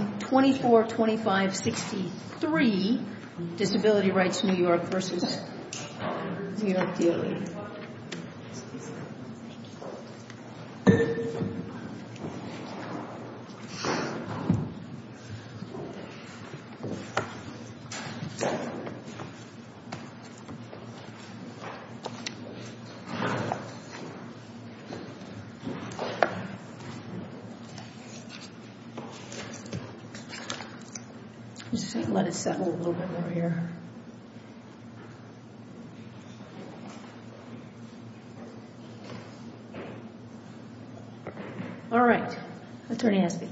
24-25-63 Disability Rights New York v. New York D.L.A. Let it settle a little bit more here. All right. Attorney Asbee.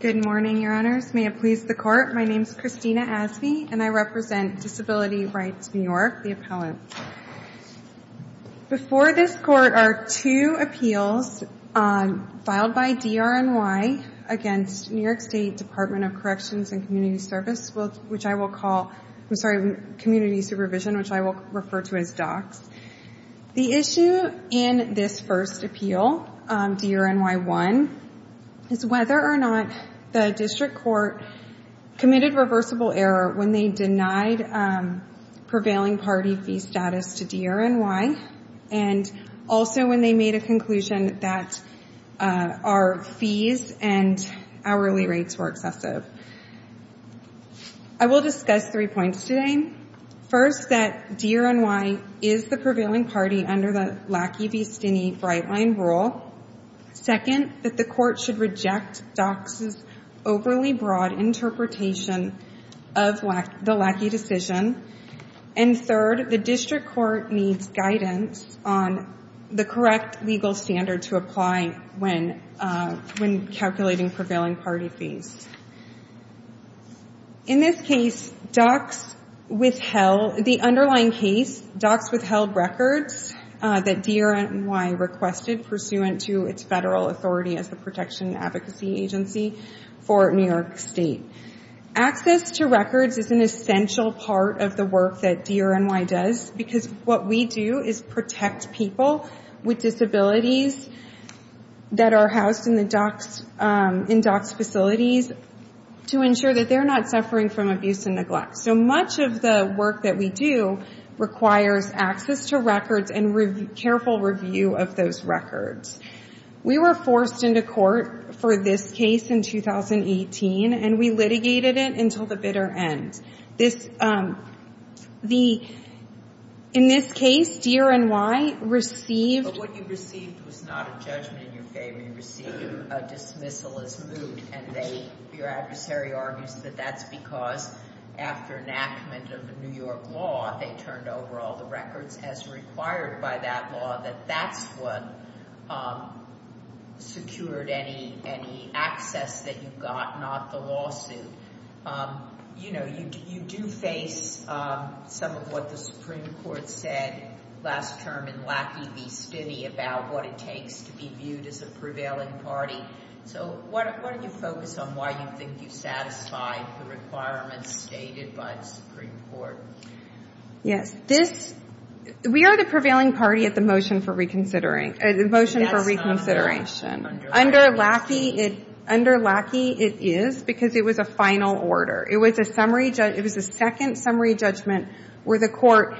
Good morning, Your Honors. May it please the Court, my name is Christina Asbee and I represent Disability Rights New York, the appellant. Before this Court are two appeals filed by DRNY against New York State Department of Corrections and Community Supervision, which I will refer to as DOCS. The issue in this first appeal, DRNY 1, is whether or not the District Court committed reversible error when they denied prevailing party fee status to DRNY and also when they made a conclusion that our fees and hourly rates were excessive. I will discuss three points today. First, that DRNY is the prevailing party under the Lackey v. Stinney Brightline rule. Second, that the Court should reject DOCS's overly broad interpretation of the Lackey decision. And third, the District Court needs guidance on the correct legal standard to apply when calculating prevailing party fees. In this case, DOCS withheld, the underlying case, DOCS withheld records that DRNY requested pursuant to its federal authority as the Protection Advocacy Agency for New York State. Access to records is an essential part of the work that DRNY does because what we do is protect people with disabilities that are housed in DOCS facilities to ensure that they're not suffering from abuse and neglect. So much of the work that we do requires access to records and careful review of those records. We were forced into court for this case in 2018, and we litigated it until the bitter end. This, the, in this case, DRNY received... But what you received was not a judgment in your favor. You received a dismissal as moot. And they, your adversary argues that that's because after enactment of the New York law, they turned over all the records as required by that law, that that's what secured any access that you got, not the lawsuit. You know, you do face some of what the Supreme Court said last term in Lackey v. Stinney about what it takes to be viewed as a prevailing party. So why don't you focus on why you think you satisfied the requirements stated by the Supreme Court? Yes. This, we are the prevailing party at the motion for reconsidering, the motion for reconsideration. Under Lackey, it, under Lackey it is because it was a final order. It was a summary, it was a second summary judgment where the court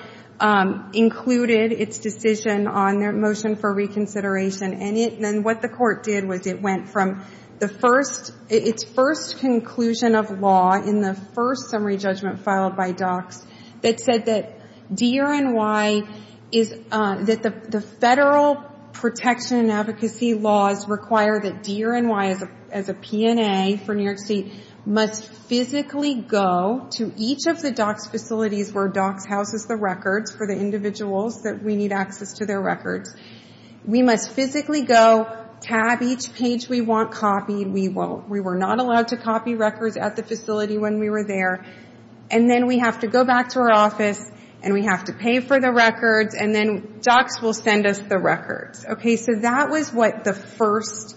included its decision on their motion for reconsideration. And it, then what the court did was it went from the first, its first conclusion of law in the first summary judgment filed by DOCS that said that DRNY is, that the federal protection and advocacy laws require that DRNY as a P&A for New York State must physically go to each of the DOCS facilities where DOCS houses the records for the individuals that we need access to their records. We must physically go, tab each page we want copied. We won't, we were not allowed to copy records at the facility when we were there. And then we have to go back to our office and we have to pay for the records and then DOCS will send us the records. Okay, so that was what the first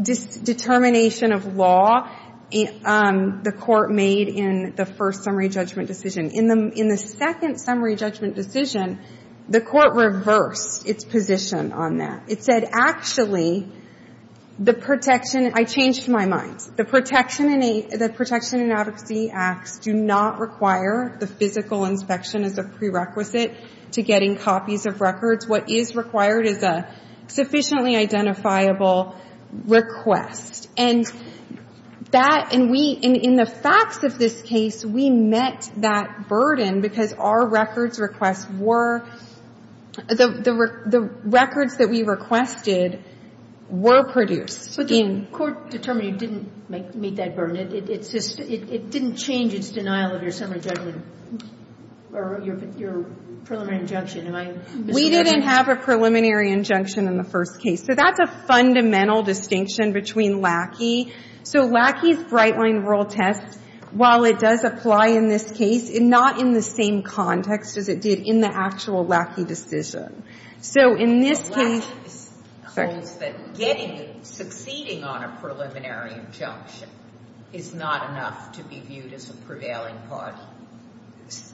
determination of law the court made in the first summary judgment decision. In the second summary judgment decision, the court reversed its position on that. It said, actually, the protection, I changed my mind. The protection in advocacy acts do not require the physical inspection as a prerequisite to getting copies of records. What is required is a sufficiently identifiable request. And that, and we, in the facts of this case, we met that burden because our records requests were, the records that we requested were produced. But the court determined you didn't meet that burden. It's just, it didn't change its denial of your summary judgment or your preliminary injunction. Am I misunderstanding? We didn't have a preliminary injunction in the first case. So that's a fundamental distinction between LACI. So LACI's Brightline Rural Test, while it does apply in this case, not in the same context as it did in the actual LACI decision. So in this case. LACI holds that getting, succeeding on a preliminary injunction is not enough to be viewed as a prevailing party.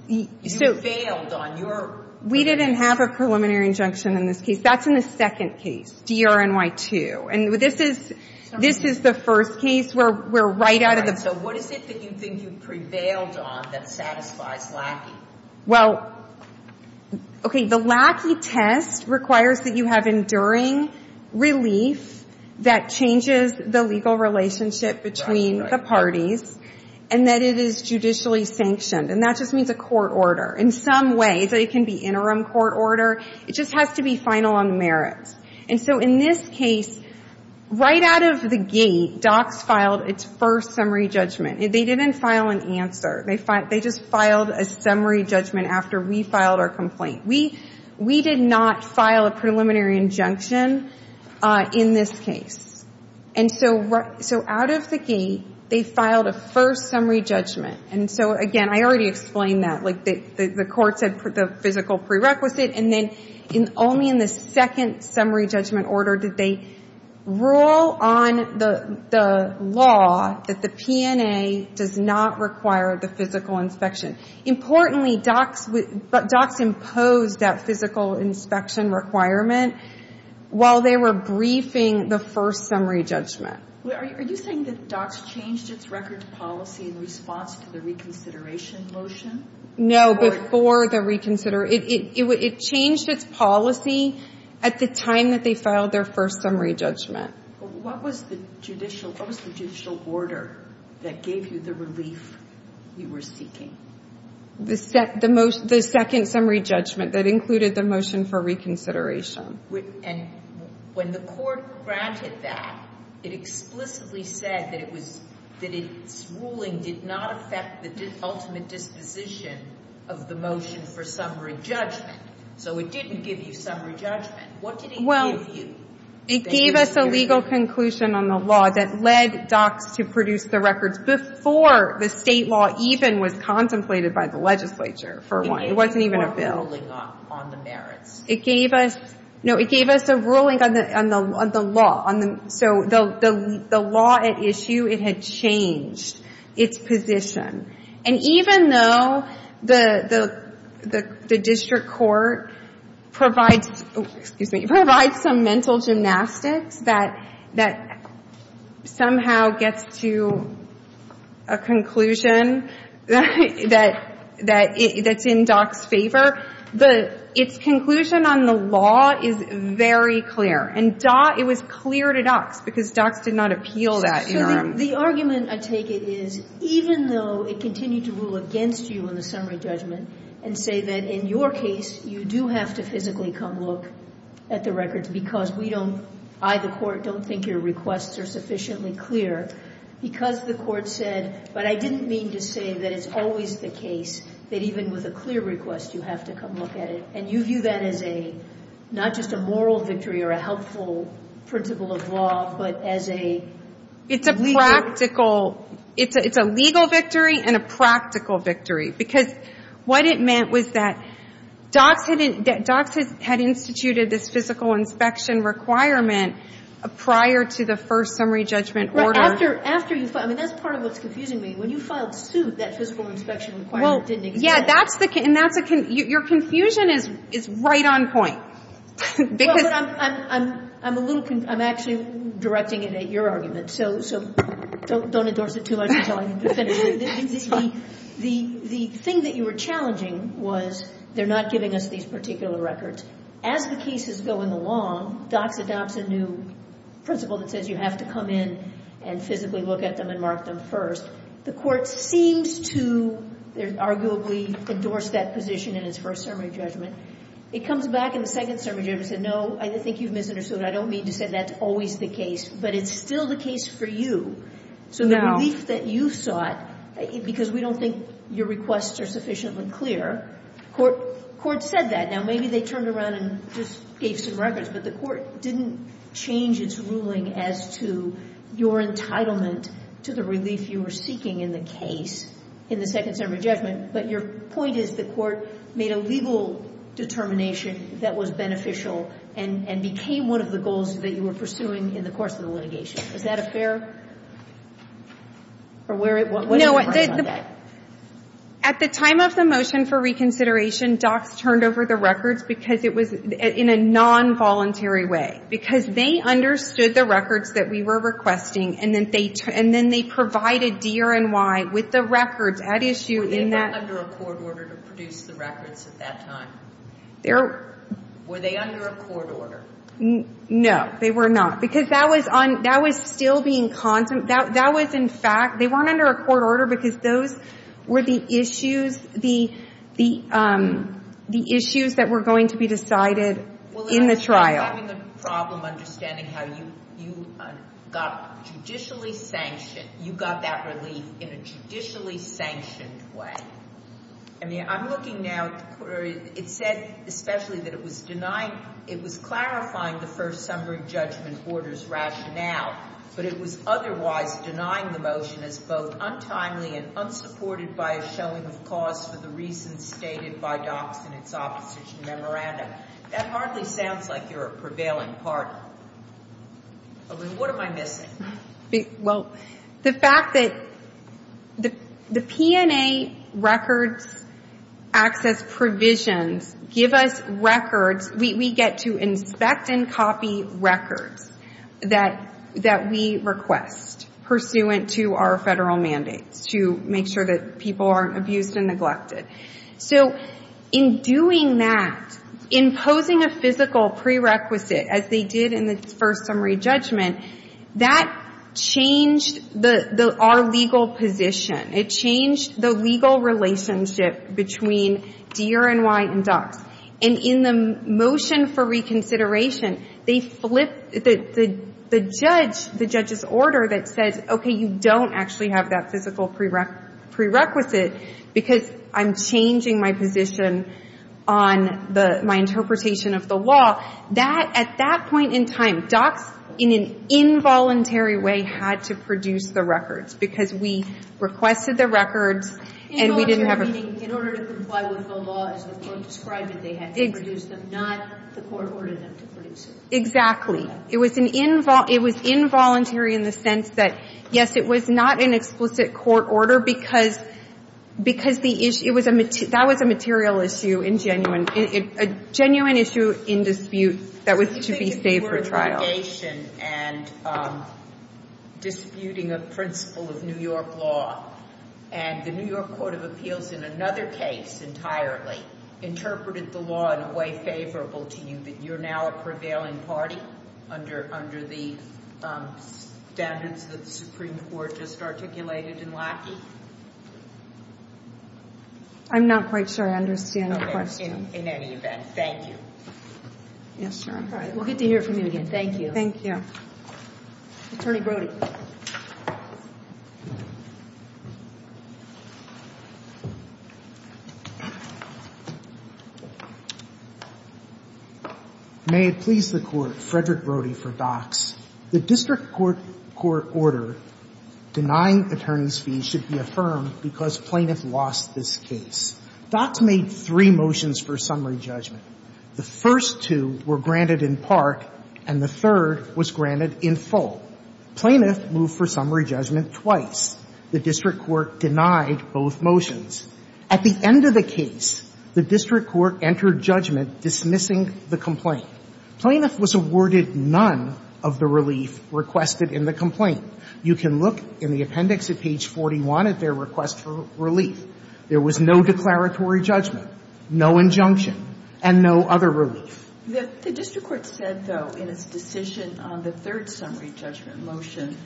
You failed on your. We didn't have a preliminary injunction in this case. That's in the second case, D-R-N-Y-2. And this is, this is the first case where we're right out of the. So what is it that you think you prevailed on that satisfies LACI? Well, okay. The LACI test requires that you have enduring relief that changes the legal relationship between the parties. And that it is judicially sanctioned. And that just means a court order. In some ways, it can be interim court order. It just has to be final on merits. And so in this case, right out of the gate, docs filed its first summary judgment. They didn't file an answer. They just filed a summary judgment after we filed our complaint. We did not file a preliminary injunction in this case. And so out of the gate, they filed a first summary judgment. And so, again, I already explained that. Like, the court said the physical prerequisite, and then only in the second summary judgment order did they rule on the law that the PNA does not require the physical inspection. Importantly, docs imposed that physical inspection requirement while they were briefing the first summary judgment. Are you saying that docs changed its record policy in response to the reconsideration motion? No, before the reconsideration. It changed its policy at the time that they filed their first summary judgment. What was the judicial order that gave you the relief you were seeking? The second summary judgment that included the motion for reconsideration. And when the court granted that, it explicitly said that its ruling did not affect the ultimate disposition of the motion for summary judgment. So it didn't give you summary judgment. What did it give you? Well, it gave us a legal conclusion on the law that led docs to produce the records before the state law even was contemplated by the legislature, for one. It wasn't even a bill. It gave you more ruling on the merits. No, it gave us a ruling on the law. So the law at issue, it had changed its position. And even though the district court provides some mental gymnastics that somehow gets to a conclusion that's in docs' favor, its conclusion on the law is very clear. And it was clear to docs because docs did not appeal that interim. So the argument I take it is, even though it continued to rule against you in the summary judgment and say that in your case you do have to physically come look at the records because we don't, I, the court, don't think your requests are sufficiently clear, because the court said, but I didn't mean to say that it's always the case that even with a clear request you have to come look at it. And you view that as a, not just a moral victory or a helpful principle of law, but as a legal. It's a practical. It's a legal victory and a practical victory. Because what it meant was that docs had instituted this physical inspection requirement prior to the first summary judgment order. After you filed, I mean, that's part of what's confusing me. When you filed suit, that physical inspection requirement didn't exist. Well, yeah, that's the, and that's a, your confusion is right on point. Because. Well, but I'm a little, I'm actually directing it at your argument. So don't endorse it too much until I finish. The thing that you were challenging was they're not giving us these particular records. As the case is going along, docs adopts a new principle that says you have to come in and physically look at them and mark them first. The court seems to arguably endorse that position in its first summary judgment. It comes back in the second summary judgment and said, no, I think you've misunderstood. I don't mean to say that's always the case. But it's still the case for you. So the relief that you sought, because we don't think your requests are sufficiently clear, the court said that. Now, maybe they turned around and just gave some records. But the court didn't change its ruling as to your entitlement to the relief you were seeking in the case in the second summary judgment. But your point is the court made a legal determination that was beneficial and became one of the goals that you were pursuing in the course of the litigation. Is that a fair? Or where, what is the point of that? At the time of the motion for reconsideration, because it was in a nonvoluntary way. Because they understood the records that we were requesting, and then they provided DRNY with the records at issue in that. Were they under a court order to produce the records at that time? Were they under a court order? No, they were not. Because that was still being contemplated. That was, in fact, they weren't under a court order because those were the issues, the issues that were going to be decided in the trial. Well, that's having a problem understanding how you got judicially sanctioned, you got that relief in a judicially sanctioned way. I mean, I'm looking now, it said especially that it was denying, it was clarifying the first summary judgment order's rationale. But it was otherwise denying the motion as both untimely and unsupported by a showing of cause for the reasons stated by docs in its opposition memorandum. That hardly sounds like you're a prevailing party. I mean, what am I missing? Well, the fact that the P&A records access provisions give us records. We get to inspect and copy records that we request, pursuant to our federal mandates to make sure that people aren't abused and neglected. So in doing that, imposing a physical prerequisite, as they did in the first summary judgment, that changed our legal position. It changed the legal relationship between Deere and White and docs. And in the motion for reconsideration, they flipped the judge, the judge's order that says, okay, you don't actually have that physical prerequisite because I'm changing my position on my interpretation of the law. At that point in time, docs in an involuntary way had to produce the records because we requested the records and we didn't have a ---- Involuntary, meaning in order to comply with the law as the court described it, they had to produce them, not the court ordered them to produce them. Exactly. It was involuntary in the sense that, yes, it was not an explicit court order because the issue was a ---- that was a material issue in genuine ---- a genuine issue in dispute that was to be saved for trial. You think the court of litigation and disputing a principle of New York law and the New York Court of Appeals in another case entirely interpreted the law in a way favorable to you, that you're now a prevailing party under the standards that the Supreme Court just articulated in Lackey? I'm not quite sure I understand the question. Okay, in any event, thank you. Yes, Your Honor. All right, we'll get to hear from you again. Thank you. Thank you. Attorney Brody. May it please the Court, Frederick Brody for Dox. The district court court order denying attorney's fees should be affirmed because plaintiff lost this case. Dox made three motions for summary judgment. The first two were granted in part and the third was granted in full. Plaintiff moved for summary judgment twice. The district court denied both motions. At the end of the case, the district court entered judgment dismissing the complaint. Plaintiff was awarded none of the relief requested in the complaint. You can look in the appendix at page 41 at their request for relief. There was no declaratory judgment, no injunction. And no other relief. The district court said, though, in its decision on the third summary judgment motion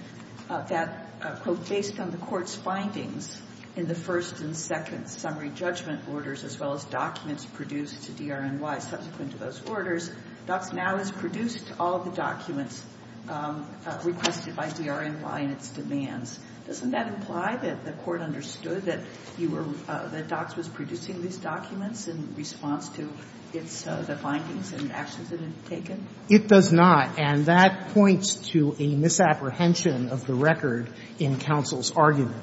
that, quote, based on the court's findings in the first and second summary judgment orders as well as documents produced to DRNY subsequent to those orders, Dox now has produced all of the documents requested by DRNY and its demands. Doesn't that imply that the court understood that you were, that Dox was producing these documents in response to its, the findings and actions that it had taken? It does not. And that points to a misapprehension of the record in counsel's argument.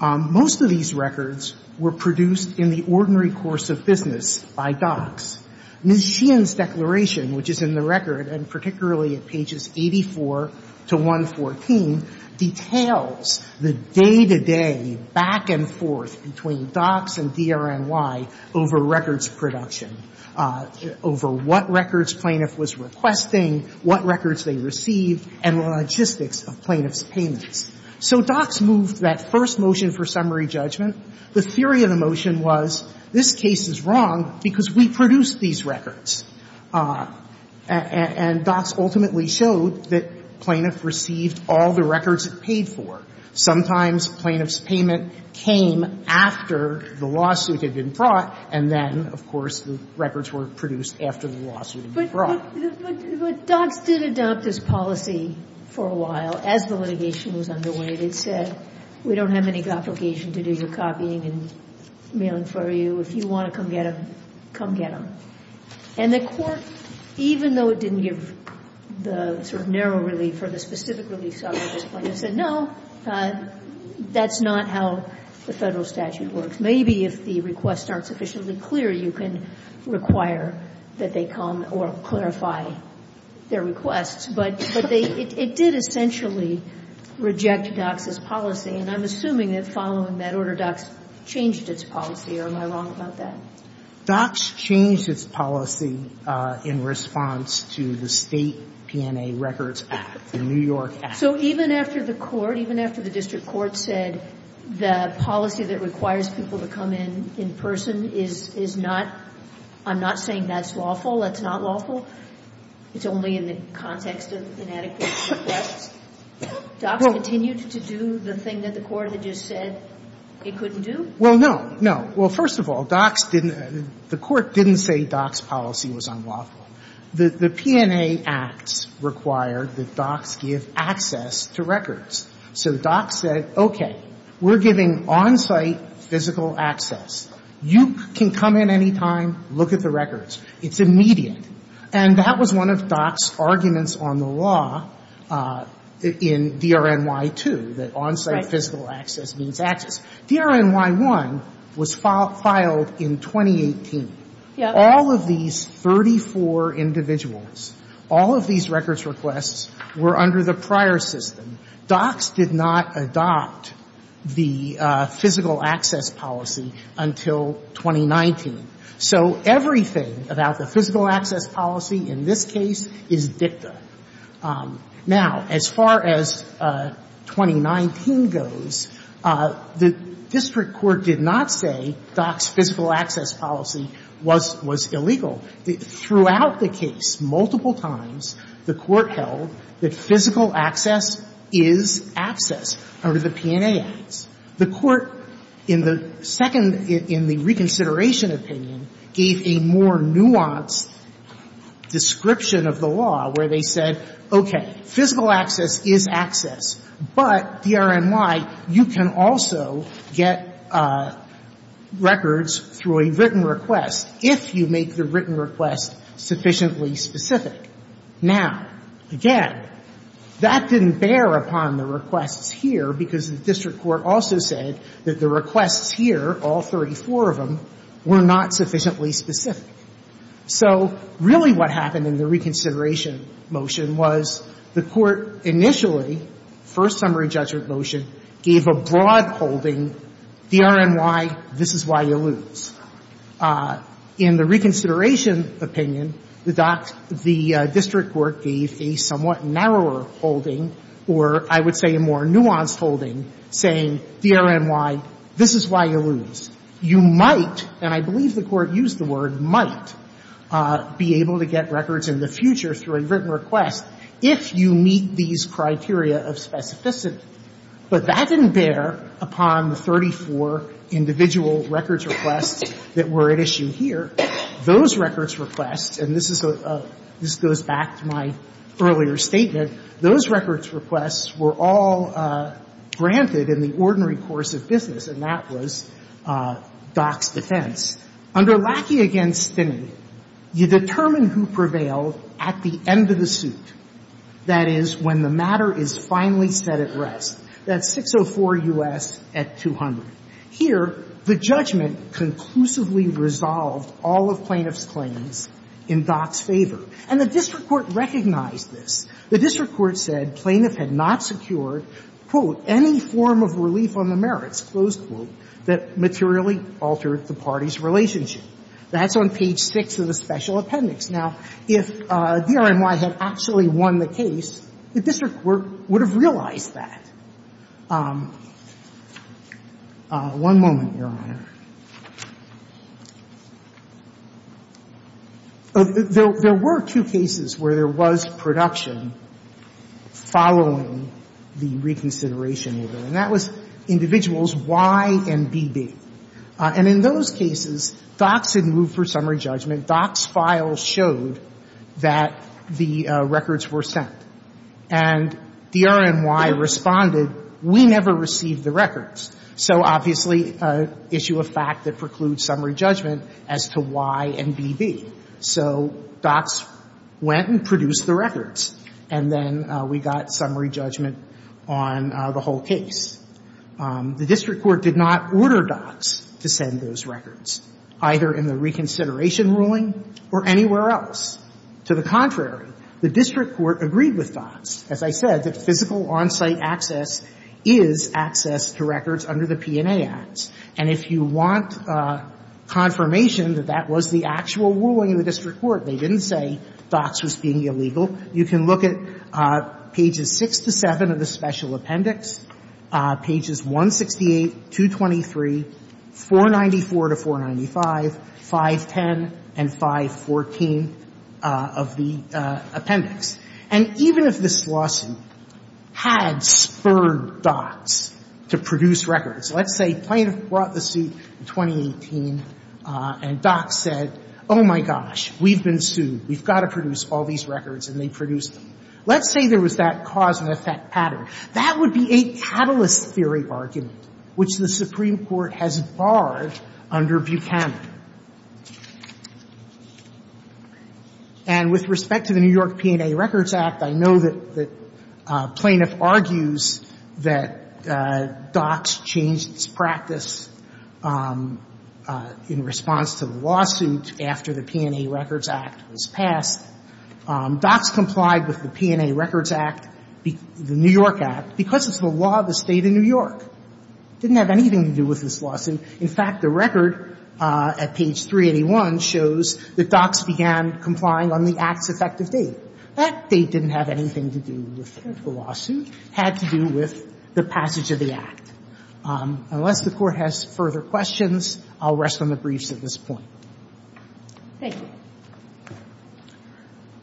Most of these records were produced in the ordinary course of business by Dox. Ms. Sheehan's declaration, which is in the record and particularly at pages 84 to 114, details the day-to-day back-and-forth between Dox and DRNY over records production, over what records plaintiff was requesting, what records they received, and the logistics of plaintiff's payments. So Dox moved that first motion for summary judgment. The theory of the motion was, this case is wrong because we produced these records. And Dox ultimately showed that plaintiff received all the records it paid for. Sometimes plaintiff's payment came after the lawsuit had been brought, and then, of course, the records were produced after the lawsuit had been brought. But Dox did adopt this policy for a while. As the litigation was underway, they said, we don't have any obligation to do your copying and mailing for you. If you want to come get them, come get them. And the Court, even though it didn't give the sort of narrow relief or the specific relief, said, no, that's not how the Federal statute works. Maybe if the requests aren't sufficiently clear, you can require that they come or clarify their requests. But it did essentially reject Dox's policy. And I'm assuming that following that order, Dox changed its policy. Or am I wrong about that? Dox changed its policy in response to the State P&A Records Act, the New York Act. So even after the Court, even after the district court said the policy that requires people to come in in person is not, I'm not saying that's lawful, that's not lawful, it's only in the context of inadequate requests, Dox continued to do the thing that the Court had just said it couldn't do? Well, no. Well, first of all, Dox didn't, the Court didn't say Dox's policy was unlawful. The P&A Acts require that Dox give access to records. So Dox said, okay, we're giving on-site physical access. You can come in any time, look at the records. It's immediate. And that was one of Dox's arguments on the law in DRNY-2, that on-site physical access means access. DRNY-1 was filed in 2018. All of these 34 individuals, all of these records requests were under the prior system. Dox did not adopt the physical access policy until 2019. So everything about the physical access policy in this case is dicta. Now, as far as 2019 goes, the district court did not say Dox's physical access policy was illegal. Throughout the case, multiple times, the Court held that physical access is access under the P&A Acts. The Court in the second, in the reconsideration opinion, gave a more nuanced description of the law where they said, okay, physical access is access, but DRNY, you can also get records through a written request if you make the written request sufficiently specific. Now, again, that didn't bear upon the requests here because the district court also said that the requests here, all 34 of them, were not sufficiently specific. So really what happened in the reconsideration motion was the Court initially, first summary judgment motion, gave a broad holding, DRNY, this is why you lose. In the reconsideration opinion, the district court gave a somewhat narrower holding or, I would say, a more nuanced holding saying, DRNY, this is why you lose. You might, and I believe the Court used the word might, be able to get records in the future through a written request if you meet these criteria of specificity. But that didn't bear upon the 34 individual records requests that were at issue here. Those records requests, and this is a — this goes back to my earlier statement. Those records requests were all granted in the ordinary course of business, and that was Dock's defense. Under Lackey v. Stinney, you determine who prevailed at the end of the suit, that is, when the matter is finally set at rest. That's 604 U.S. at 200. Here, the judgment conclusively resolved all of plaintiff's claims in Dock's favor. And the district court recognized this. The district court said plaintiff had not secured, quote, any form of relief on the merits, closed quote, that materially altered the party's relationship. That's on page 6 of the Special Appendix. Now, if DRNY had actually won the case, the district court would have realized that. One moment, Your Honor. There were two cases where there was production following the reconsideration of it, and that was individuals Y and B.B. And in those cases, Dock's had moved for summary judgment. Dock's file showed that the records were sent. And DRNY responded, we never received the records. So obviously, issue of fact that precludes summary judgment as to Y and B.B. So Dock's went and produced the records, and then we got summary judgment on the whole case. The district court did not order Dock's to send those records, either in the reconsideration ruling or anywhere else. To the contrary, the district court agreed with Dock's. As I said, the physical on-site access is access to records under the P&A Acts. And if you want confirmation that that was the actual ruling of the district court, they didn't say Dock's was being illegal, you can look at pages 6 to 7 of the Special Appendix, pages 168, 223, 494 to 495, 510, and 514 of the Appendix. And even if this lawsuit had spurred Dock's to produce records, let's say plaintiff brought the suit in 2018, and Dock's said, oh, my gosh, we've been sued. We've got to produce all these records, and they produced them. Let's say there was that cause and effect pattern. That would be a catalyst theory argument, which the Supreme Court has barred under Buchanan. And with respect to the New York P&A Records Act, I know that the plaintiff argues that Dock's changed its practice in response to the lawsuit after the P&A Records Act was passed. Dock's complied with the P&A Records Act, the New York Act, because it's the law of the State of New York. It didn't have anything to do with this lawsuit. In fact, the record at page 381 shows that Dock's began complying on the Act's effective date. That date didn't have anything to do with the lawsuit. It had to do with the passage of the Act. Unless the Court has further questions, I'll rest on the briefs at this point. Thank you.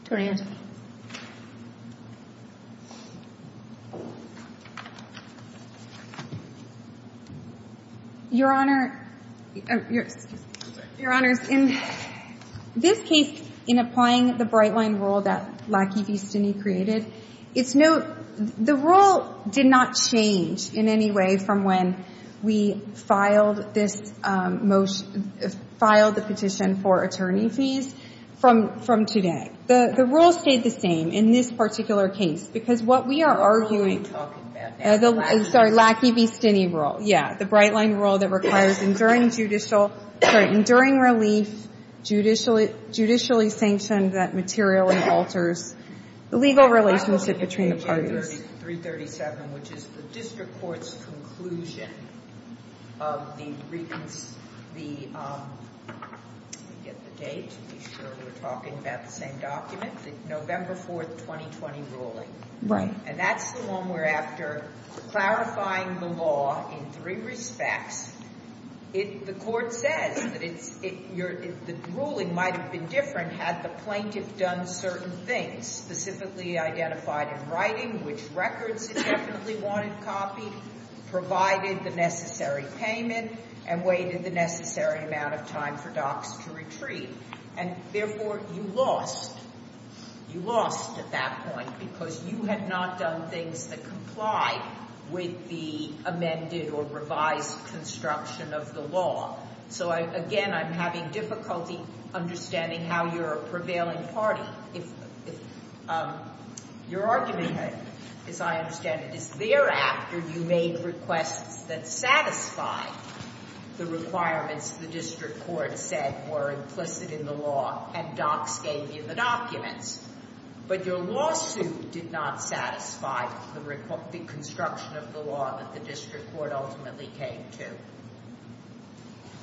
Attorney Angelou. Your Honor. Your Honor, in this case, in applying the bright-line rule that Lackey v. Stinney created, the rule did not change in any way from when we filed the petition for today. The rule stayed the same in this particular case, because what we are arguing Lackey v. Stinney rule. Yeah, the bright-line rule that requires enduring relief, judicially sanctioned that materially alters the legal relationship between the parties. which is the District Court's conclusion of the, let me get the date to be sure we're talking about the same document, the November 4th, 2020 ruling. Right. And that's the one where after clarifying the law in three respects, the Court says that the ruling might have been different had the plaintiff done certain things, specifically identified in writing which records it definitely wanted copied, provided the necessary payment, and waited the necessary amount of time for docs to retreat. And therefore, you lost. You lost at that point, because you had not done things that complied with the amended or revised construction of the law. So again, I'm having difficulty understanding how you're a prevailing party if your argument, as I understand it, is thereafter you made requests that satisfied the requirements the District Court said were implicit in the law, and docs gave you the documents. But your lawsuit did not satisfy the construction of the law that the District Court ultimately came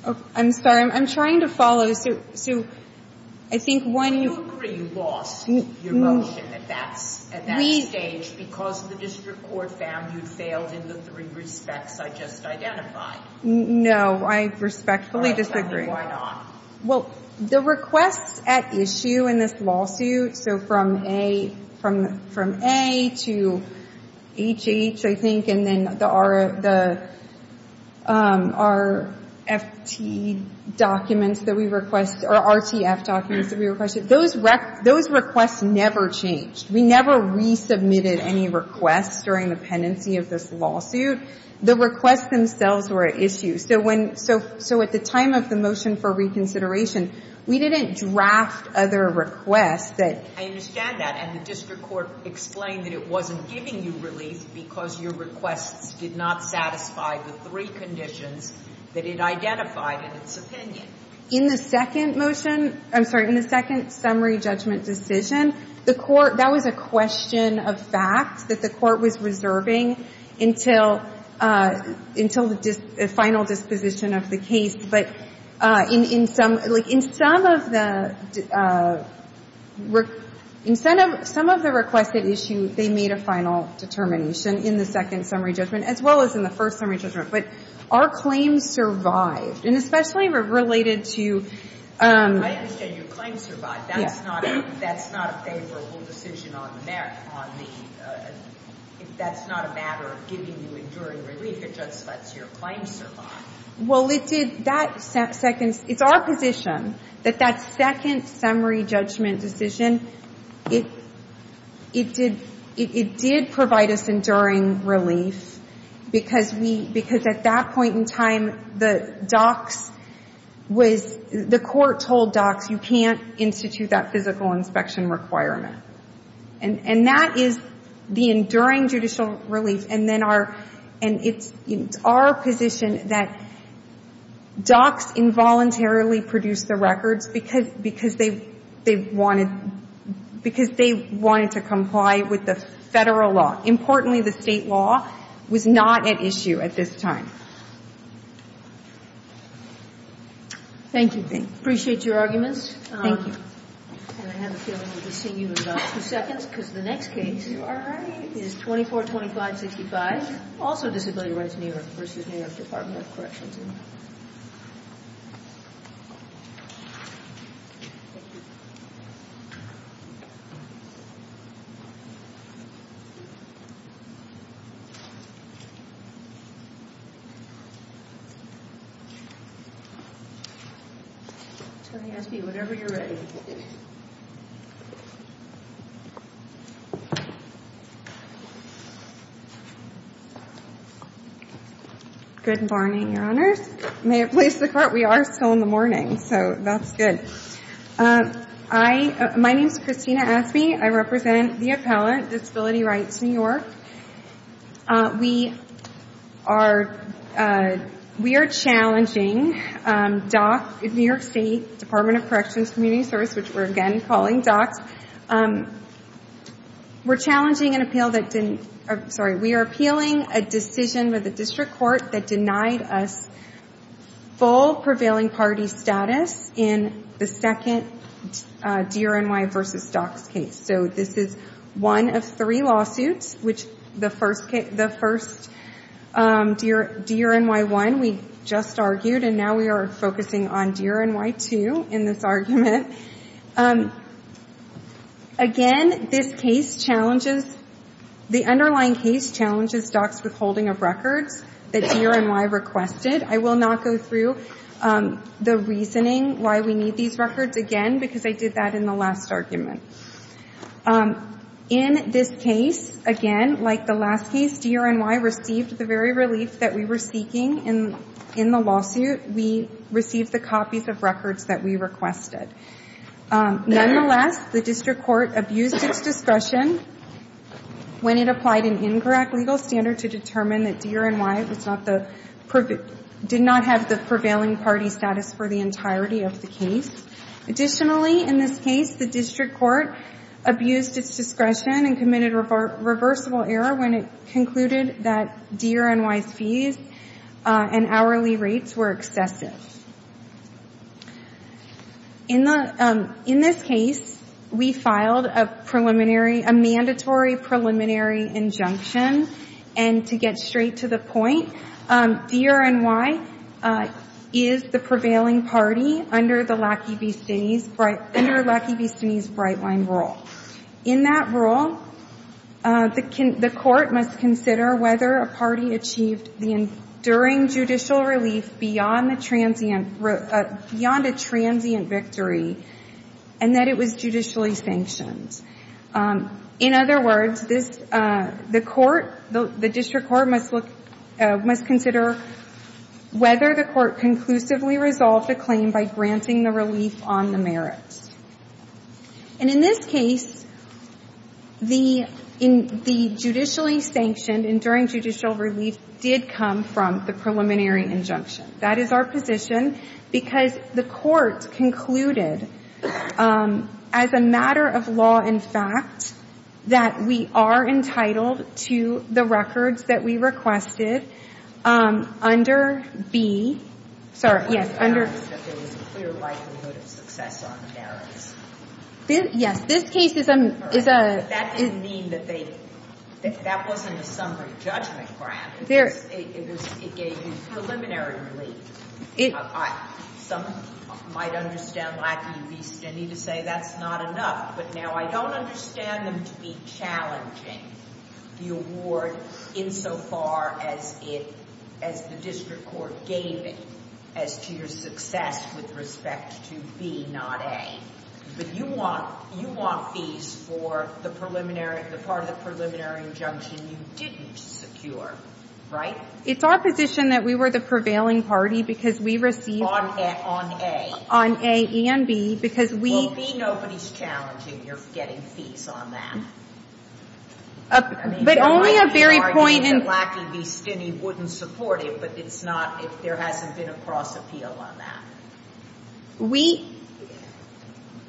to. I'm sorry. I'm trying to follow. Do you agree you lost your motion at that stage because the District Court found you'd failed in the three respects I just identified? No, I respectfully disagree. Why not? Well, the requests at issue in this lawsuit, so from A to HH, I think, and then the RFT documents that we requested, or RTF documents that we requested, those requests never changed. We never resubmitted any requests during the pendency of this lawsuit. The requests themselves were at issue. So at the time of the motion for reconsideration, we didn't draft other requests that ---- I understand that. And the District Court explained that it wasn't giving you relief because your requests did not satisfy the three conditions that it identified in its opinion. In the second motion ---- I'm sorry. In the second summary judgment decision, the court ---- that was a question of fact that the court was reserving until the final disposition of the case. But in some of the requested issue, they made a final determination in the second summary judgment as well as in the first summary judgment. But our claims survived. And especially related to ---- I understand your claims survived. That's not a favorable decision on the merit, on the ---- if that's not a matter of giving you enduring relief, it just lets your claims survive. Well, it did. That second ---- it's our position that that second summary judgment decision, it did provide us enduring relief because we ---- because at that point in time, the docs was ---- the court told docs you can't institute that physical inspection requirement. And that is the enduring judicial relief. And then our ---- and it's our position that docs involuntarily produced the records because they wanted to comply with the Federal law. Importantly, the State law was not at issue at this time. Thank you. Appreciate your arguments. Thank you. And I have a feeling we'll be seeing you in about two seconds because the next case you are writing is 2425-65, also Disability Rights New York v. New York Department of Corrections. Thank you. Whatever you're ready. Good morning, Your Honors. May it please the Court, we are still in the morning, so that's good. I ---- my name is Christina Asme. I represent the appellant, Disability Rights New York. We are ---- we are challenging DOC, New York State Department of Corrections Community Service, which we're again calling DOC. We're challenging an appeal that didn't ---- sorry, we are appealing a decision by the district court that denied us full prevailing party status in the second D-R-N-Y v. DOC's case. So this is one of three lawsuits, which the first case ---- the first D-R-N-Y-1 we just argued, and now we are focusing on D-R-N-Y-2 in this argument. Again, this case challenges ---- the underlying case challenges DOC's withholding of records that D-R-N-Y requested. I will not go through the reasoning why we need these records again because I did that in the last argument. In this case, again, like the last case, D-R-N-Y received the very relief that we were seeking in the lawsuit. We received the copies of records that we requested. Nonetheless, the district court abused its discretion when it applied an incorrect legal standard to determine that D-R-N-Y was not the ---- did not have the prevailing party status for the entirety of the case. Additionally, in this case, the district court abused its discretion and committed a reversible error when it concluded that D-R-N-Y's fees and hourly rates were excessive. In the ---- in this case, we filed a preliminary ---- a mandatory preliminary injunction. And to get straight to the point, D-R-N-Y is the prevailing party under the Lackey v. Stinney's bright ---- under Lackey v. Stinney's bright line rule. In that rule, the court must consider whether a party achieved the enduring judicial relief beyond the transient ---- beyond a transient victory and that it was judicially sanctioned. In other words, this ---- the court, the district court must look ---- must consider whether the court conclusively resolved the claim by granting the relief on the merits. And in this case, the ---- the judicially sanctioned enduring judicial relief did come from the preliminary injunction. That is our position because the court concluded, as a matter of law and fact, that we are entitled to the records that we requested under B ---- sorry, yes, under ---- that there was a clear likelihood of success on the merits. Yes. This case is a ---- That didn't mean that they ---- that wasn't a summary judgment grant. There ---- It gave you preliminary relief. It ---- Some might understand Lackey v. Stinney to say that's not enough. But now I don't understand them to be challenging the award insofar as it ---- as the to B, not A. But you want ---- you want fees for the preliminary ---- the part of the preliminary injunction you didn't secure, right? It's our position that we were the prevailing party because we received ---- On A. On A and B, because we ---- Well, B, nobody's challenging your getting fees on that. But only a very point in ---- I mean, I could argue that Lackey v. Stinney wouldn't support it, but it's not ---- There hasn't been a cross appeal on that. We ----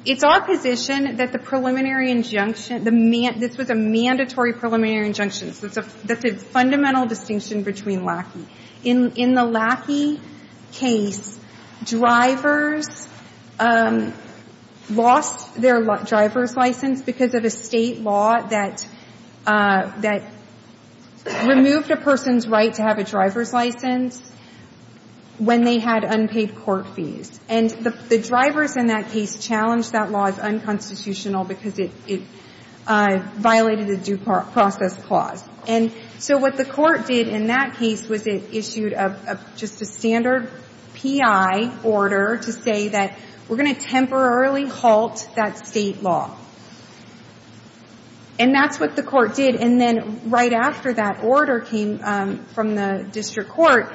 It's our position that the preliminary injunction, the ---- this was a mandatory preliminary injunction. So it's a ---- that's a fundamental distinction between Lackey. In the Lackey case, drivers lost their driver's license because of a state law that ---- that removed a person's right to have a driver's license when they had unpaid court fees. And the drivers in that case challenged that law as unconstitutional because it violated the due process clause. And so what the court did in that case was it issued a ---- just a standard P.I. order to say that we're going to temporarily halt that state law. And that's what the court did. And then right after that order came from the district court,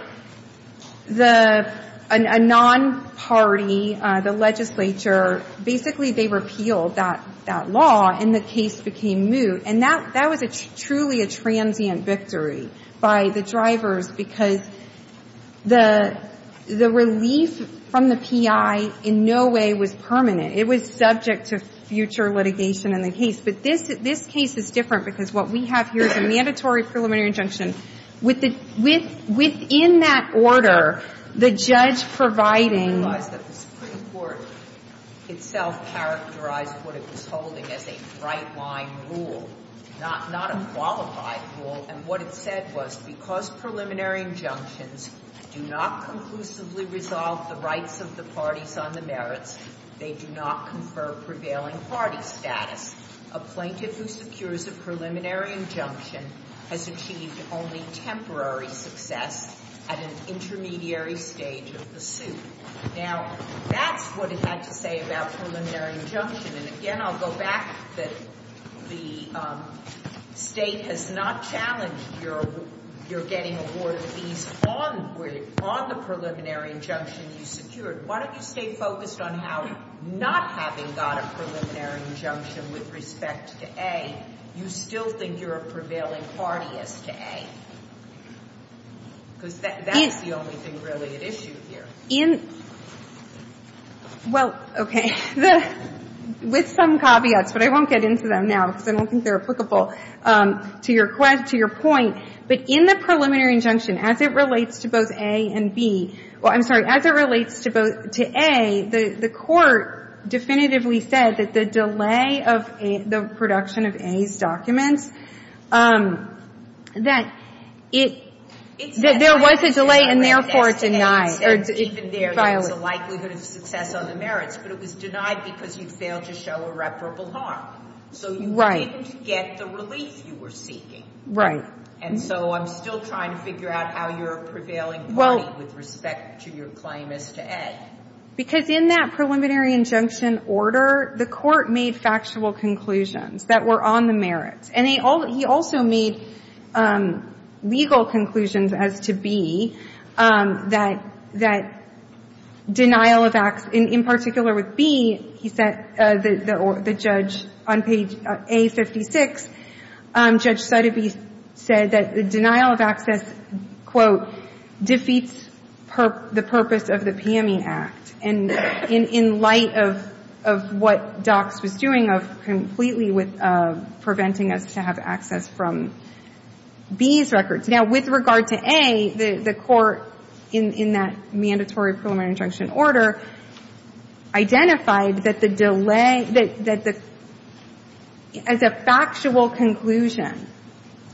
the ---- a non-party, the legislature, basically they repealed that law and the case became moot. And that was a truly a transient victory by the drivers because the relief from the P.I. in no way was permanent. It was subject to future litigation in the case. But this case is different because what we have here is a mandatory preliminary injunction. Within that order, the judge providing ---- The Supreme Court itself characterized what it was holding as a bright-line rule, not a qualified rule. And what it said was because preliminary injunctions do not conclusively resolve the rights of the parties on the merits, they do not confer prevailing party status. A plaintiff who secures a preliminary injunction has achieved only temporary success at an intermediary stage of the suit. Now, that's what it had to say about preliminary injunction. And again, I'll go back that the state has not challenged your getting a word of ease on the preliminary injunction you secured. Why don't you stay focused on how not having got a preliminary injunction with respect to A, you still think you're a prevailing party as to A? Because that's the only thing really at issue here. In ---- well, okay. With some caveats, but I won't get into them now because I don't think they're applicable to your point. But in the preliminary injunction, as it relates to both A and B ---- well, I'm sorry. As it relates to both ---- to A, the Court definitively said that the delay of the production of A's documents, that it ---- There was a delay and therefore it's denied. Even there, there's a likelihood of success on the merits. But it was denied because you failed to show irreparable harm. Right. So you didn't get the relief you were seeking. Right. And so I'm still trying to figure out how you're a prevailing party with respect to your claim as to A. Because in that preliminary injunction order, the Court made factual conclusions that were on the merits. And they all ---- he also made legal conclusions as to B, that ---- that denial of access ---- in particular with B, he said the judge on page A56, Judge Sotheby's said that the denial of access, quote, defeats the purpose of the PME Act. And in light of what DOCS was doing of completely with preventing us to have access from B's records. Now, with regard to A, the Court in that mandatory preliminary injunction order identified that the delay ---- that the ---- as a factual conclusion,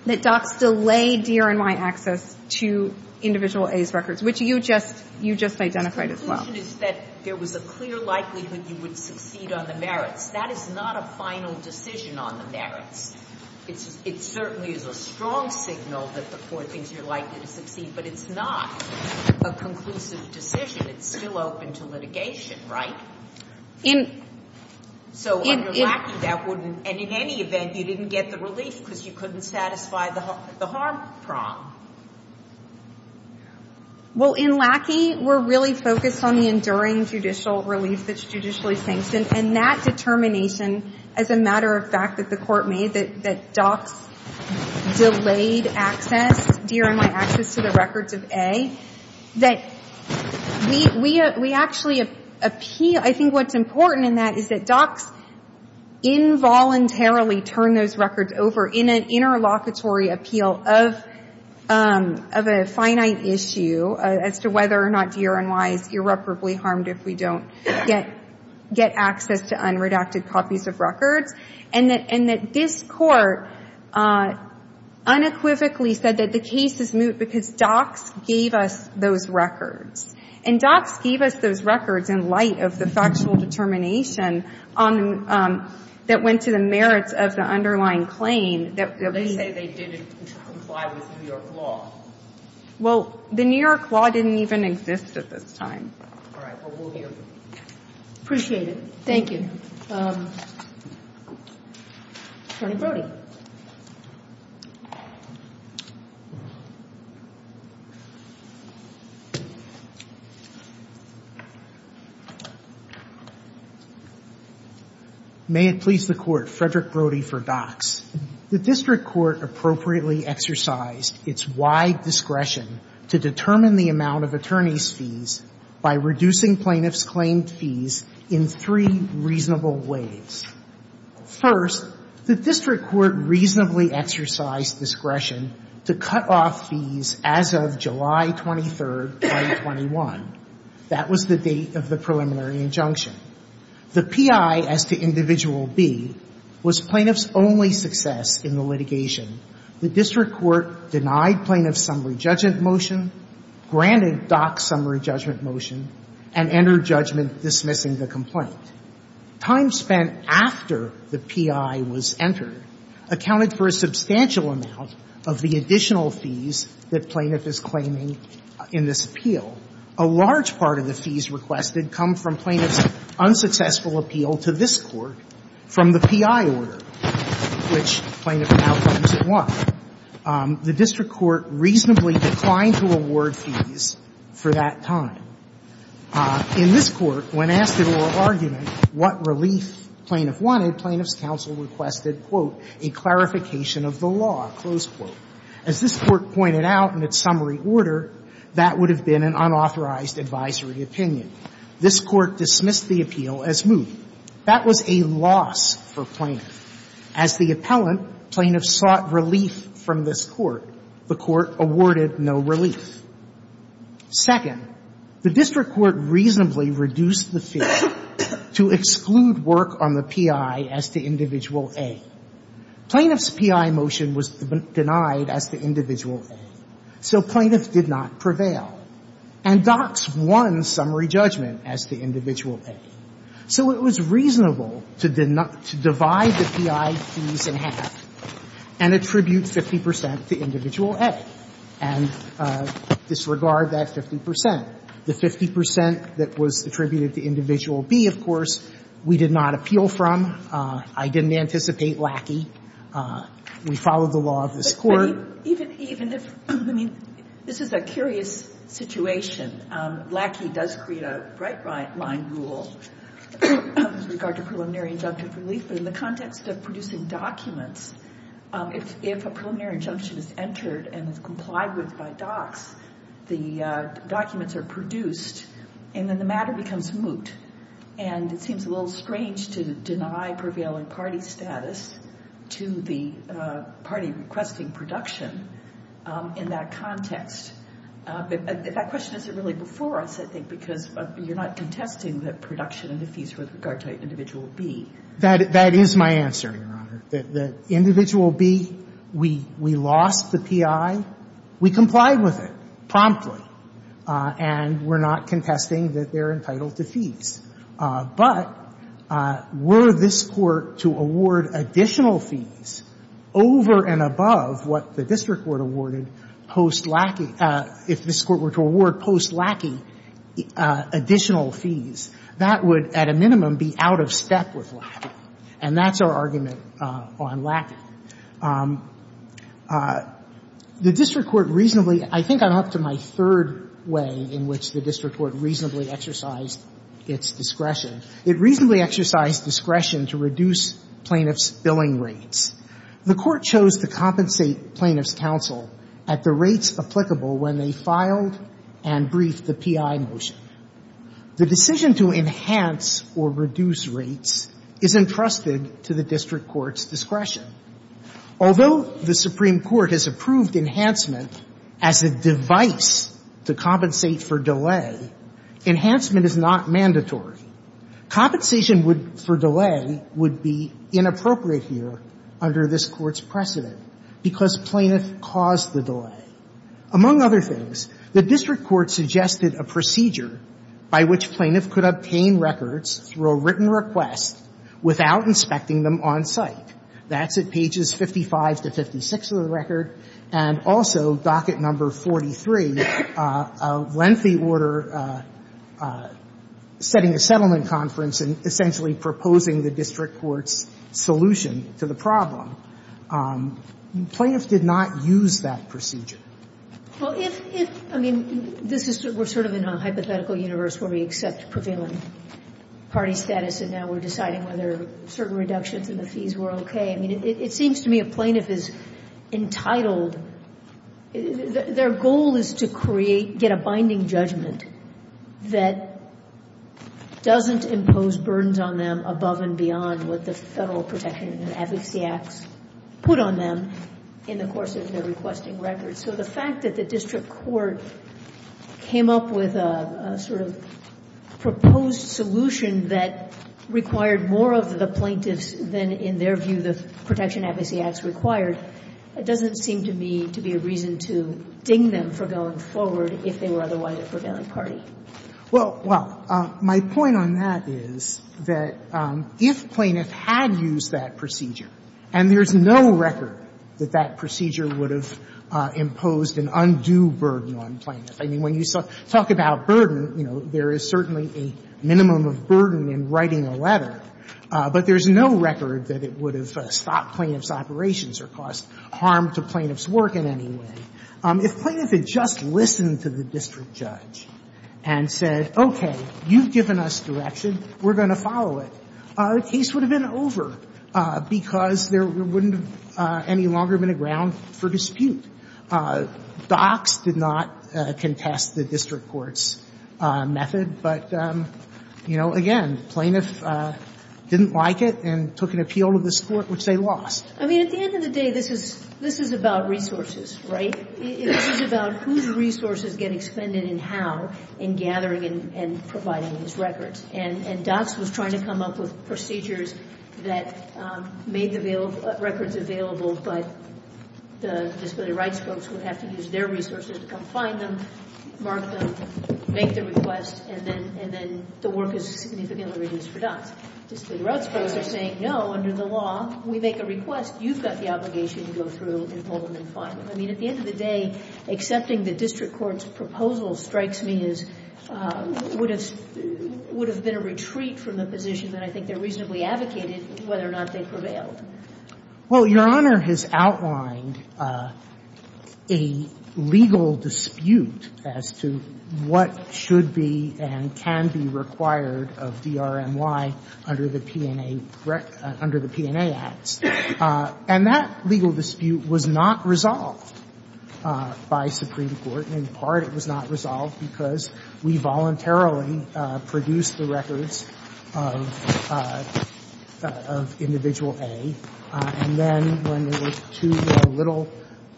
that DOCS delayed DRNY access to individual A's records, which you just identified as well. And the conclusion is that there was a clear likelihood you would succeed on the merits. That is not a final decision on the merits. It certainly is a strong signal that the Court thinks you're likely to succeed, but it's not a conclusive decision. It's still open to litigation, right? In ---- So under Lackey, that wouldn't ---- and in any event, you didn't get the relief because you couldn't satisfy the harm prong. Well, in Lackey, we're really focused on the enduring judicial relief that's judicially sanctioned. And that determination, as a matter of fact that the Court made, that DOCS delayed access, DRNY access to the records of A, that we actually appeal ---- I think what's important in that is that DOCS involuntarily turned those records over in an interlocutory appeal of a finite issue as to whether or not DRNY is irreparably harmed if we don't get access to unredacted copies of records. And that this Court unequivocally said that the case is moot because DOCS gave us those records. And DOCS gave us those records in light of the factual determination that went to the merits of the underlying claim that we ---- They say they didn't comply with New York law. Well, the New York law didn't even exist at this time. All right. Well, we'll hear from you. Appreciate it. Thank you. Attorney Brody. May it please the Court, Frederick Brody for DOCS. The district court appropriately exercised its wide discretion to determine the amount of attorneys' fees by reducing plaintiffs' claimed fees in three reasonable ways. First, the district court reasonably exercised discretion to cut off fees as of July 23, 2021. That was the date of the preliminary injunction. The P.I. as to Individual B was plaintiffs' only success in the litigation. The district court denied plaintiffs' summary judgment motion, granted DOCS' summary judgment motion, and entered judgment dismissing the complaint. Time spent after the P.I. was entered accounted for a substantial amount of the additional fees that plaintiff is claiming in this appeal. A large part of the fees requested come from plaintiffs' unsuccessful appeal to this P.I. order, which plaintiff now claims it won. The district court reasonably declined to award fees for that time. In this Court, when asked at oral argument what relief plaintiff wanted, plaintiffs' counsel requested, quote, a clarification of the law, close quote. As this Court pointed out in its summary order, that would have been an unauthorized advisory opinion. This Court dismissed the appeal as moot. That was a loss for plaintiff. As the appellant, plaintiffs sought relief from this Court. The Court awarded no relief. Second, the district court reasonably reduced the fee to exclude work on the P.I. as to Individual A. Plaintiffs' P.I. motion was denied as to Individual A, so plaintiffs did not prevail. And DOCS won summary judgment as to Individual A. So it was reasonable to divide the P.I. fees in half and attribute 50 percent to Individual A and disregard that 50 percent. The 50 percent that was attributed to Individual B, of course, we did not appeal from. I didn't anticipate Lackey. We followed the law of this Court. Even if, I mean, this is a curious situation. Lackey does create a right-line rule with regard to preliminary injunctive relief, but in the context of producing documents, if a preliminary injunction is entered and is complied with by DOCS, the documents are produced, and then the matter becomes moot. And it seems a little strange to deny prevailing party status to the party requesting production in that context. That question isn't really before us, I think, because you're not contesting the production of the fees with regard to Individual B. That is my answer, Your Honor. That Individual B, we lost the P.I. We complied with it promptly, and we're not contesting that they're entitled to fees. But were this Court to award additional fees over and above what the district court awarded post Lackey, if this Court were to award post Lackey additional fees, that would, at a minimum, be out of step with Lackey. And that's our argument on Lackey. The district court reasonably – I think I'm up to my third way in which the district court reasonably exercised its discretion. It reasonably exercised discretion to reduce plaintiffs' billing rates. The Court chose to compensate plaintiffs' counsel at the rates applicable when they filed and briefed the P.I. motion. The decision to enhance or reduce rates is entrusted to the district court's discretion. Although the Supreme Court has approved enhancement as a device to compensate for delay, enhancement is not mandatory. Compensation for delay would be inappropriate here under this Court's precedent because plaintiff caused the delay. Among other things, the district court suggested a procedure by which plaintiff could obtain records through a written request without inspecting them on site. That's at pages 55 to 56 of the record. And also, docket number 43, a lengthy order setting a settlement conference and essentially proposing the district court's solution to the problem. Plaintiffs did not use that procedure. Well, if – if – I mean, this is – we're sort of in a hypothetical universe where we accept prevailing party status and now we're deciding whether certain reductions in the fees were okay. I mean, it seems to me a plaintiff is entitled – their goal is to create – get a binding judgment that doesn't impose burdens on them above and beyond what the Federal Protection and Advocacy Acts put on them in the course of their requesting records. So the fact that the district court came up with a sort of proposed solution that required more of the plaintiffs than, in their view, the Protection and Advocacy Acts required, it doesn't seem to me to be a reason to ding them for going forward if they were otherwise a prevailing party. Well, my point on that is that if plaintiff had used that procedure, and there's no record that that procedure would have imposed an undue burden on plaintiff, I mean, when you talk about burden, you know, there is certainly a minimum of burden in writing a letter, but there's no record that it would have stopped plaintiff's operations or caused harm to plaintiff's work in any way. If plaintiff had just listened to the district judge and said, okay, you've given us direction, we're going to follow it, the case would have been over because there wouldn't have any longer been a ground for dispute. Docks did not contest the district court's method, but, you know, again, plaintiff didn't like it and took an appeal to this Court, which they lost. I mean, at the end of the day, this is about resources, right? This is about whose resources get expended and how in gathering and providing these records. And Docks was trying to come up with procedures that made records available, but the disability rights folks would have to use their resources to come find them, mark them, make the request, and then the work is significantly reduced for Docks. Disability rights folks are saying, no, under the law, we make a request, you've got the obligation to go through and hold them and find them. I mean, at the end of the day, accepting the district court's proposal strikes me as would have been a retreat from the position that I think they reasonably advocated whether or not they prevailed. Well, Your Honor has outlined a legal dispute as to what should be and can be required of DRMY under the P&A Act. And that legal dispute was not resolved by Supreme Court. In part, it was not resolved because we voluntarily produced the records of individual A, and then when there were two little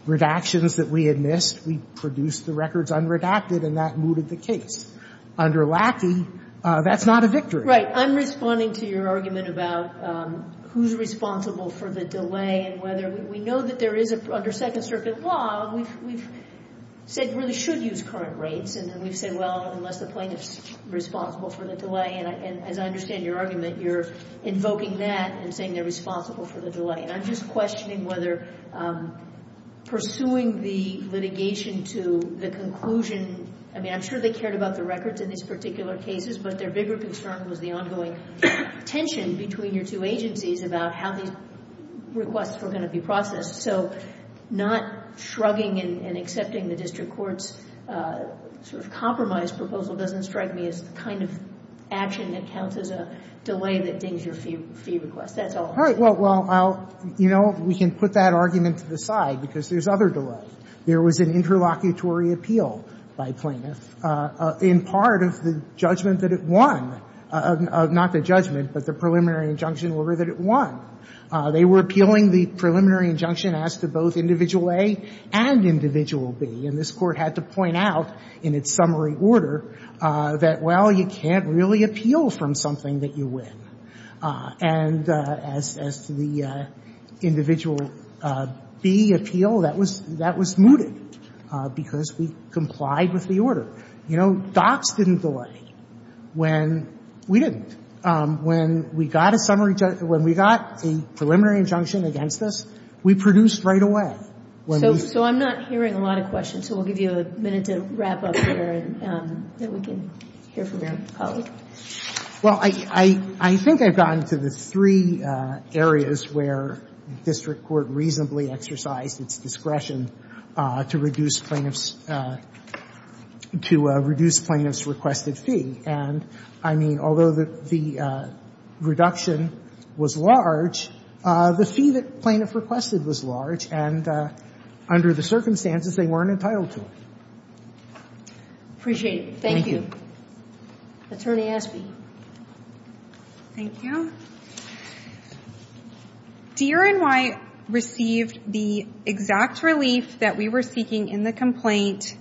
redactions that we had missed, we produced the records unredacted and that mooted the case. Under Lackey, that's not a victory. Right. I'm responding to your argument about who's responsible for the delay and whether we know that there is, under Second Circuit law, we've said really should use current rates and then we've said, well, unless the plaintiff's responsible for the delay. And as I understand your argument, you're invoking that and saying they're responsible for the delay. And I'm just questioning whether pursuing the litigation to the conclusion, I mean, I'm sure they cared about the records in these particular cases, but their bigger concern was the ongoing tension between your two agencies about how these requests were going to be processed. So not shrugging and accepting the district court's sort of compromise proposal doesn't strike me as the kind of action that counts as a delay that dings your fee request. That's all. All right. Well, you know, we can put that argument to the side because there's other delays. There was an interlocutory appeal by plaintiffs in part of the judgment that it won, not the judgment, but the preliminary injunction order that it won. They were appealing the preliminary injunction as to both Individual A and Individual B. And this Court had to point out in its summary order that, well, you can't really appeal from something that you win. And as to the Individual B appeal, that was mooted because we complied with the order. You know, docs didn't delay when we didn't. When we got a summary, when we got a preliminary injunction against us, we produced right away. So I'm not hearing a lot of questions, so we'll give you a minute to wrap up here and then we can hear from your colleague. Well, I think I've gotten to the three areas where district court reasonably exercised its discretion to reduce plaintiffs' requested fee. And I mean, although the reduction was large, the fee that plaintiff requested was large, and under the circumstances, they weren't entitled to it. Appreciate it. Thank you. Thank you. Attorney Asbee. Thank you. DRNY received the exact relief that we were seeking in the complaint,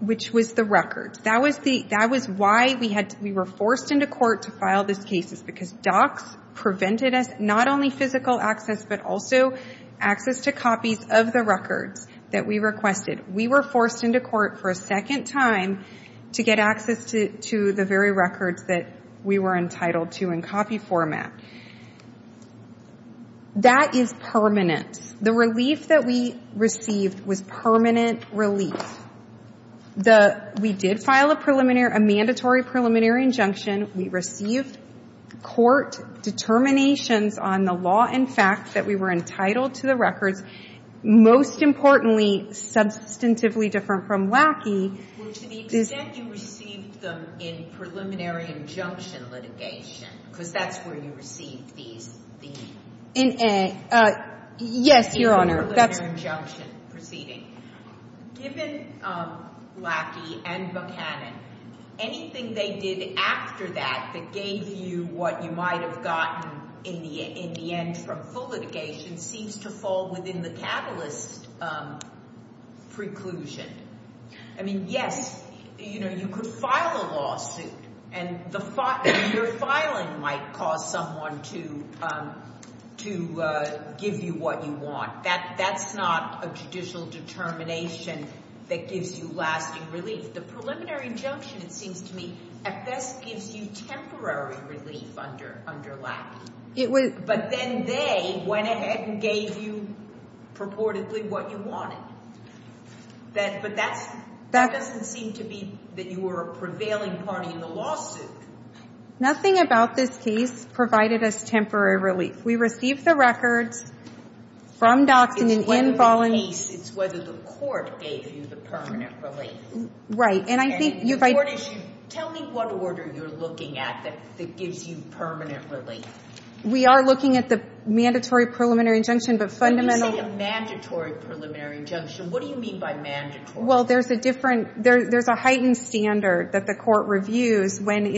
which was the record. That was why we were forced into court to file these cases, because docs prevented us not only physical access, but also access to copies of the records that we requested. We were forced into court for a second time to get access to the very records that we were entitled to in copy format. That is permanent. The relief that we received was permanent relief. We did file a mandatory preliminary injunction. We received court determinations on the law and facts that we were entitled to the records, most importantly, substantively different from WACI. Well, to the extent you received them in preliminary injunction litigation, because that's where you received these fees. Yes, Your Honor. In preliminary injunction proceeding. Given Lackey and Buchanan, anything they did after that that gave you what you might have gotten in the end from full litigation seems to fall within the catalyst preclusion. I mean, yes, you could file a lawsuit, and your filing might cause someone to give you what you want. That's not a judicial determination that gives you lasting relief. The preliminary injunction, it seems to me, at best gives you temporary relief under Lackey. But then they went ahead and gave you purportedly what you wanted. But that doesn't seem to be that you were a prevailing party in the lawsuit. Nothing about this case provided us temporary relief. We received the records from Dockson and Bolling. It's whether the court gave you the permanent relief. Right. Tell me what order you're looking at that gives you permanent relief. We are looking at the mandatory preliminary injunction. When you say a mandatory preliminary injunction, what do you mean by mandatory? Well, there's a heightened standard that the court reviews when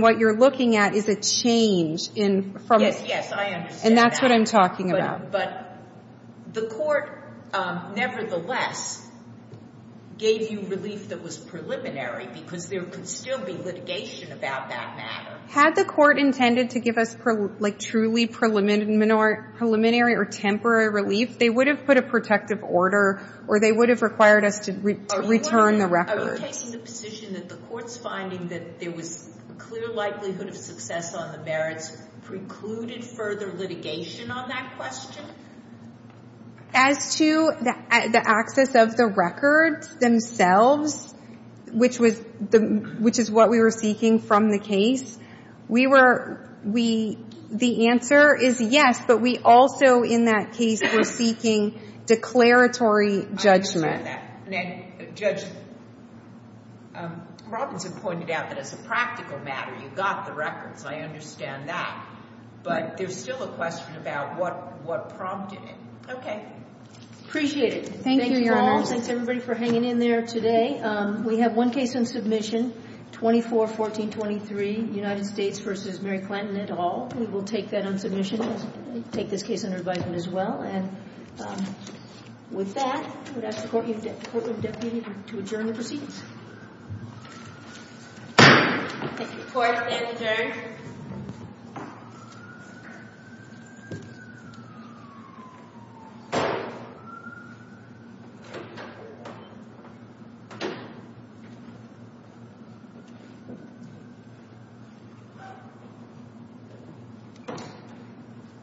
what you're looking at is a change. Yes, I understand that. And that's what I'm talking about. But the court, nevertheless, gave you relief that was preliminary because there could still be litigation about that matter. Had the court intended to give us truly preliminary or temporary relief, they would have put a protective order or they would have required us to return the records. Are you taking the position that the court's finding that there was clear likelihood of success on the merits precluded further litigation on that question? As to the access of the records themselves, which is what we were seeking from the case, the answer is yes. But we also, in that case, were seeking declaratory judgment. I understand that. And then Judge Robinson pointed out that as a practical matter, you got the records. I understand that. But there's still a question about what prompted it. OK. Appreciate it. Thank you, Your Honor. Thank you all. Thanks, everybody, for hanging in there today. We have one case on submission, 24-14-23, United States versus Mary Clinton et al. We will take that on submission and take this case under advisement as well. And with that, I would ask the Courtroom Deputy to adjourn the proceedings. Thank you, Court. It is adjourned.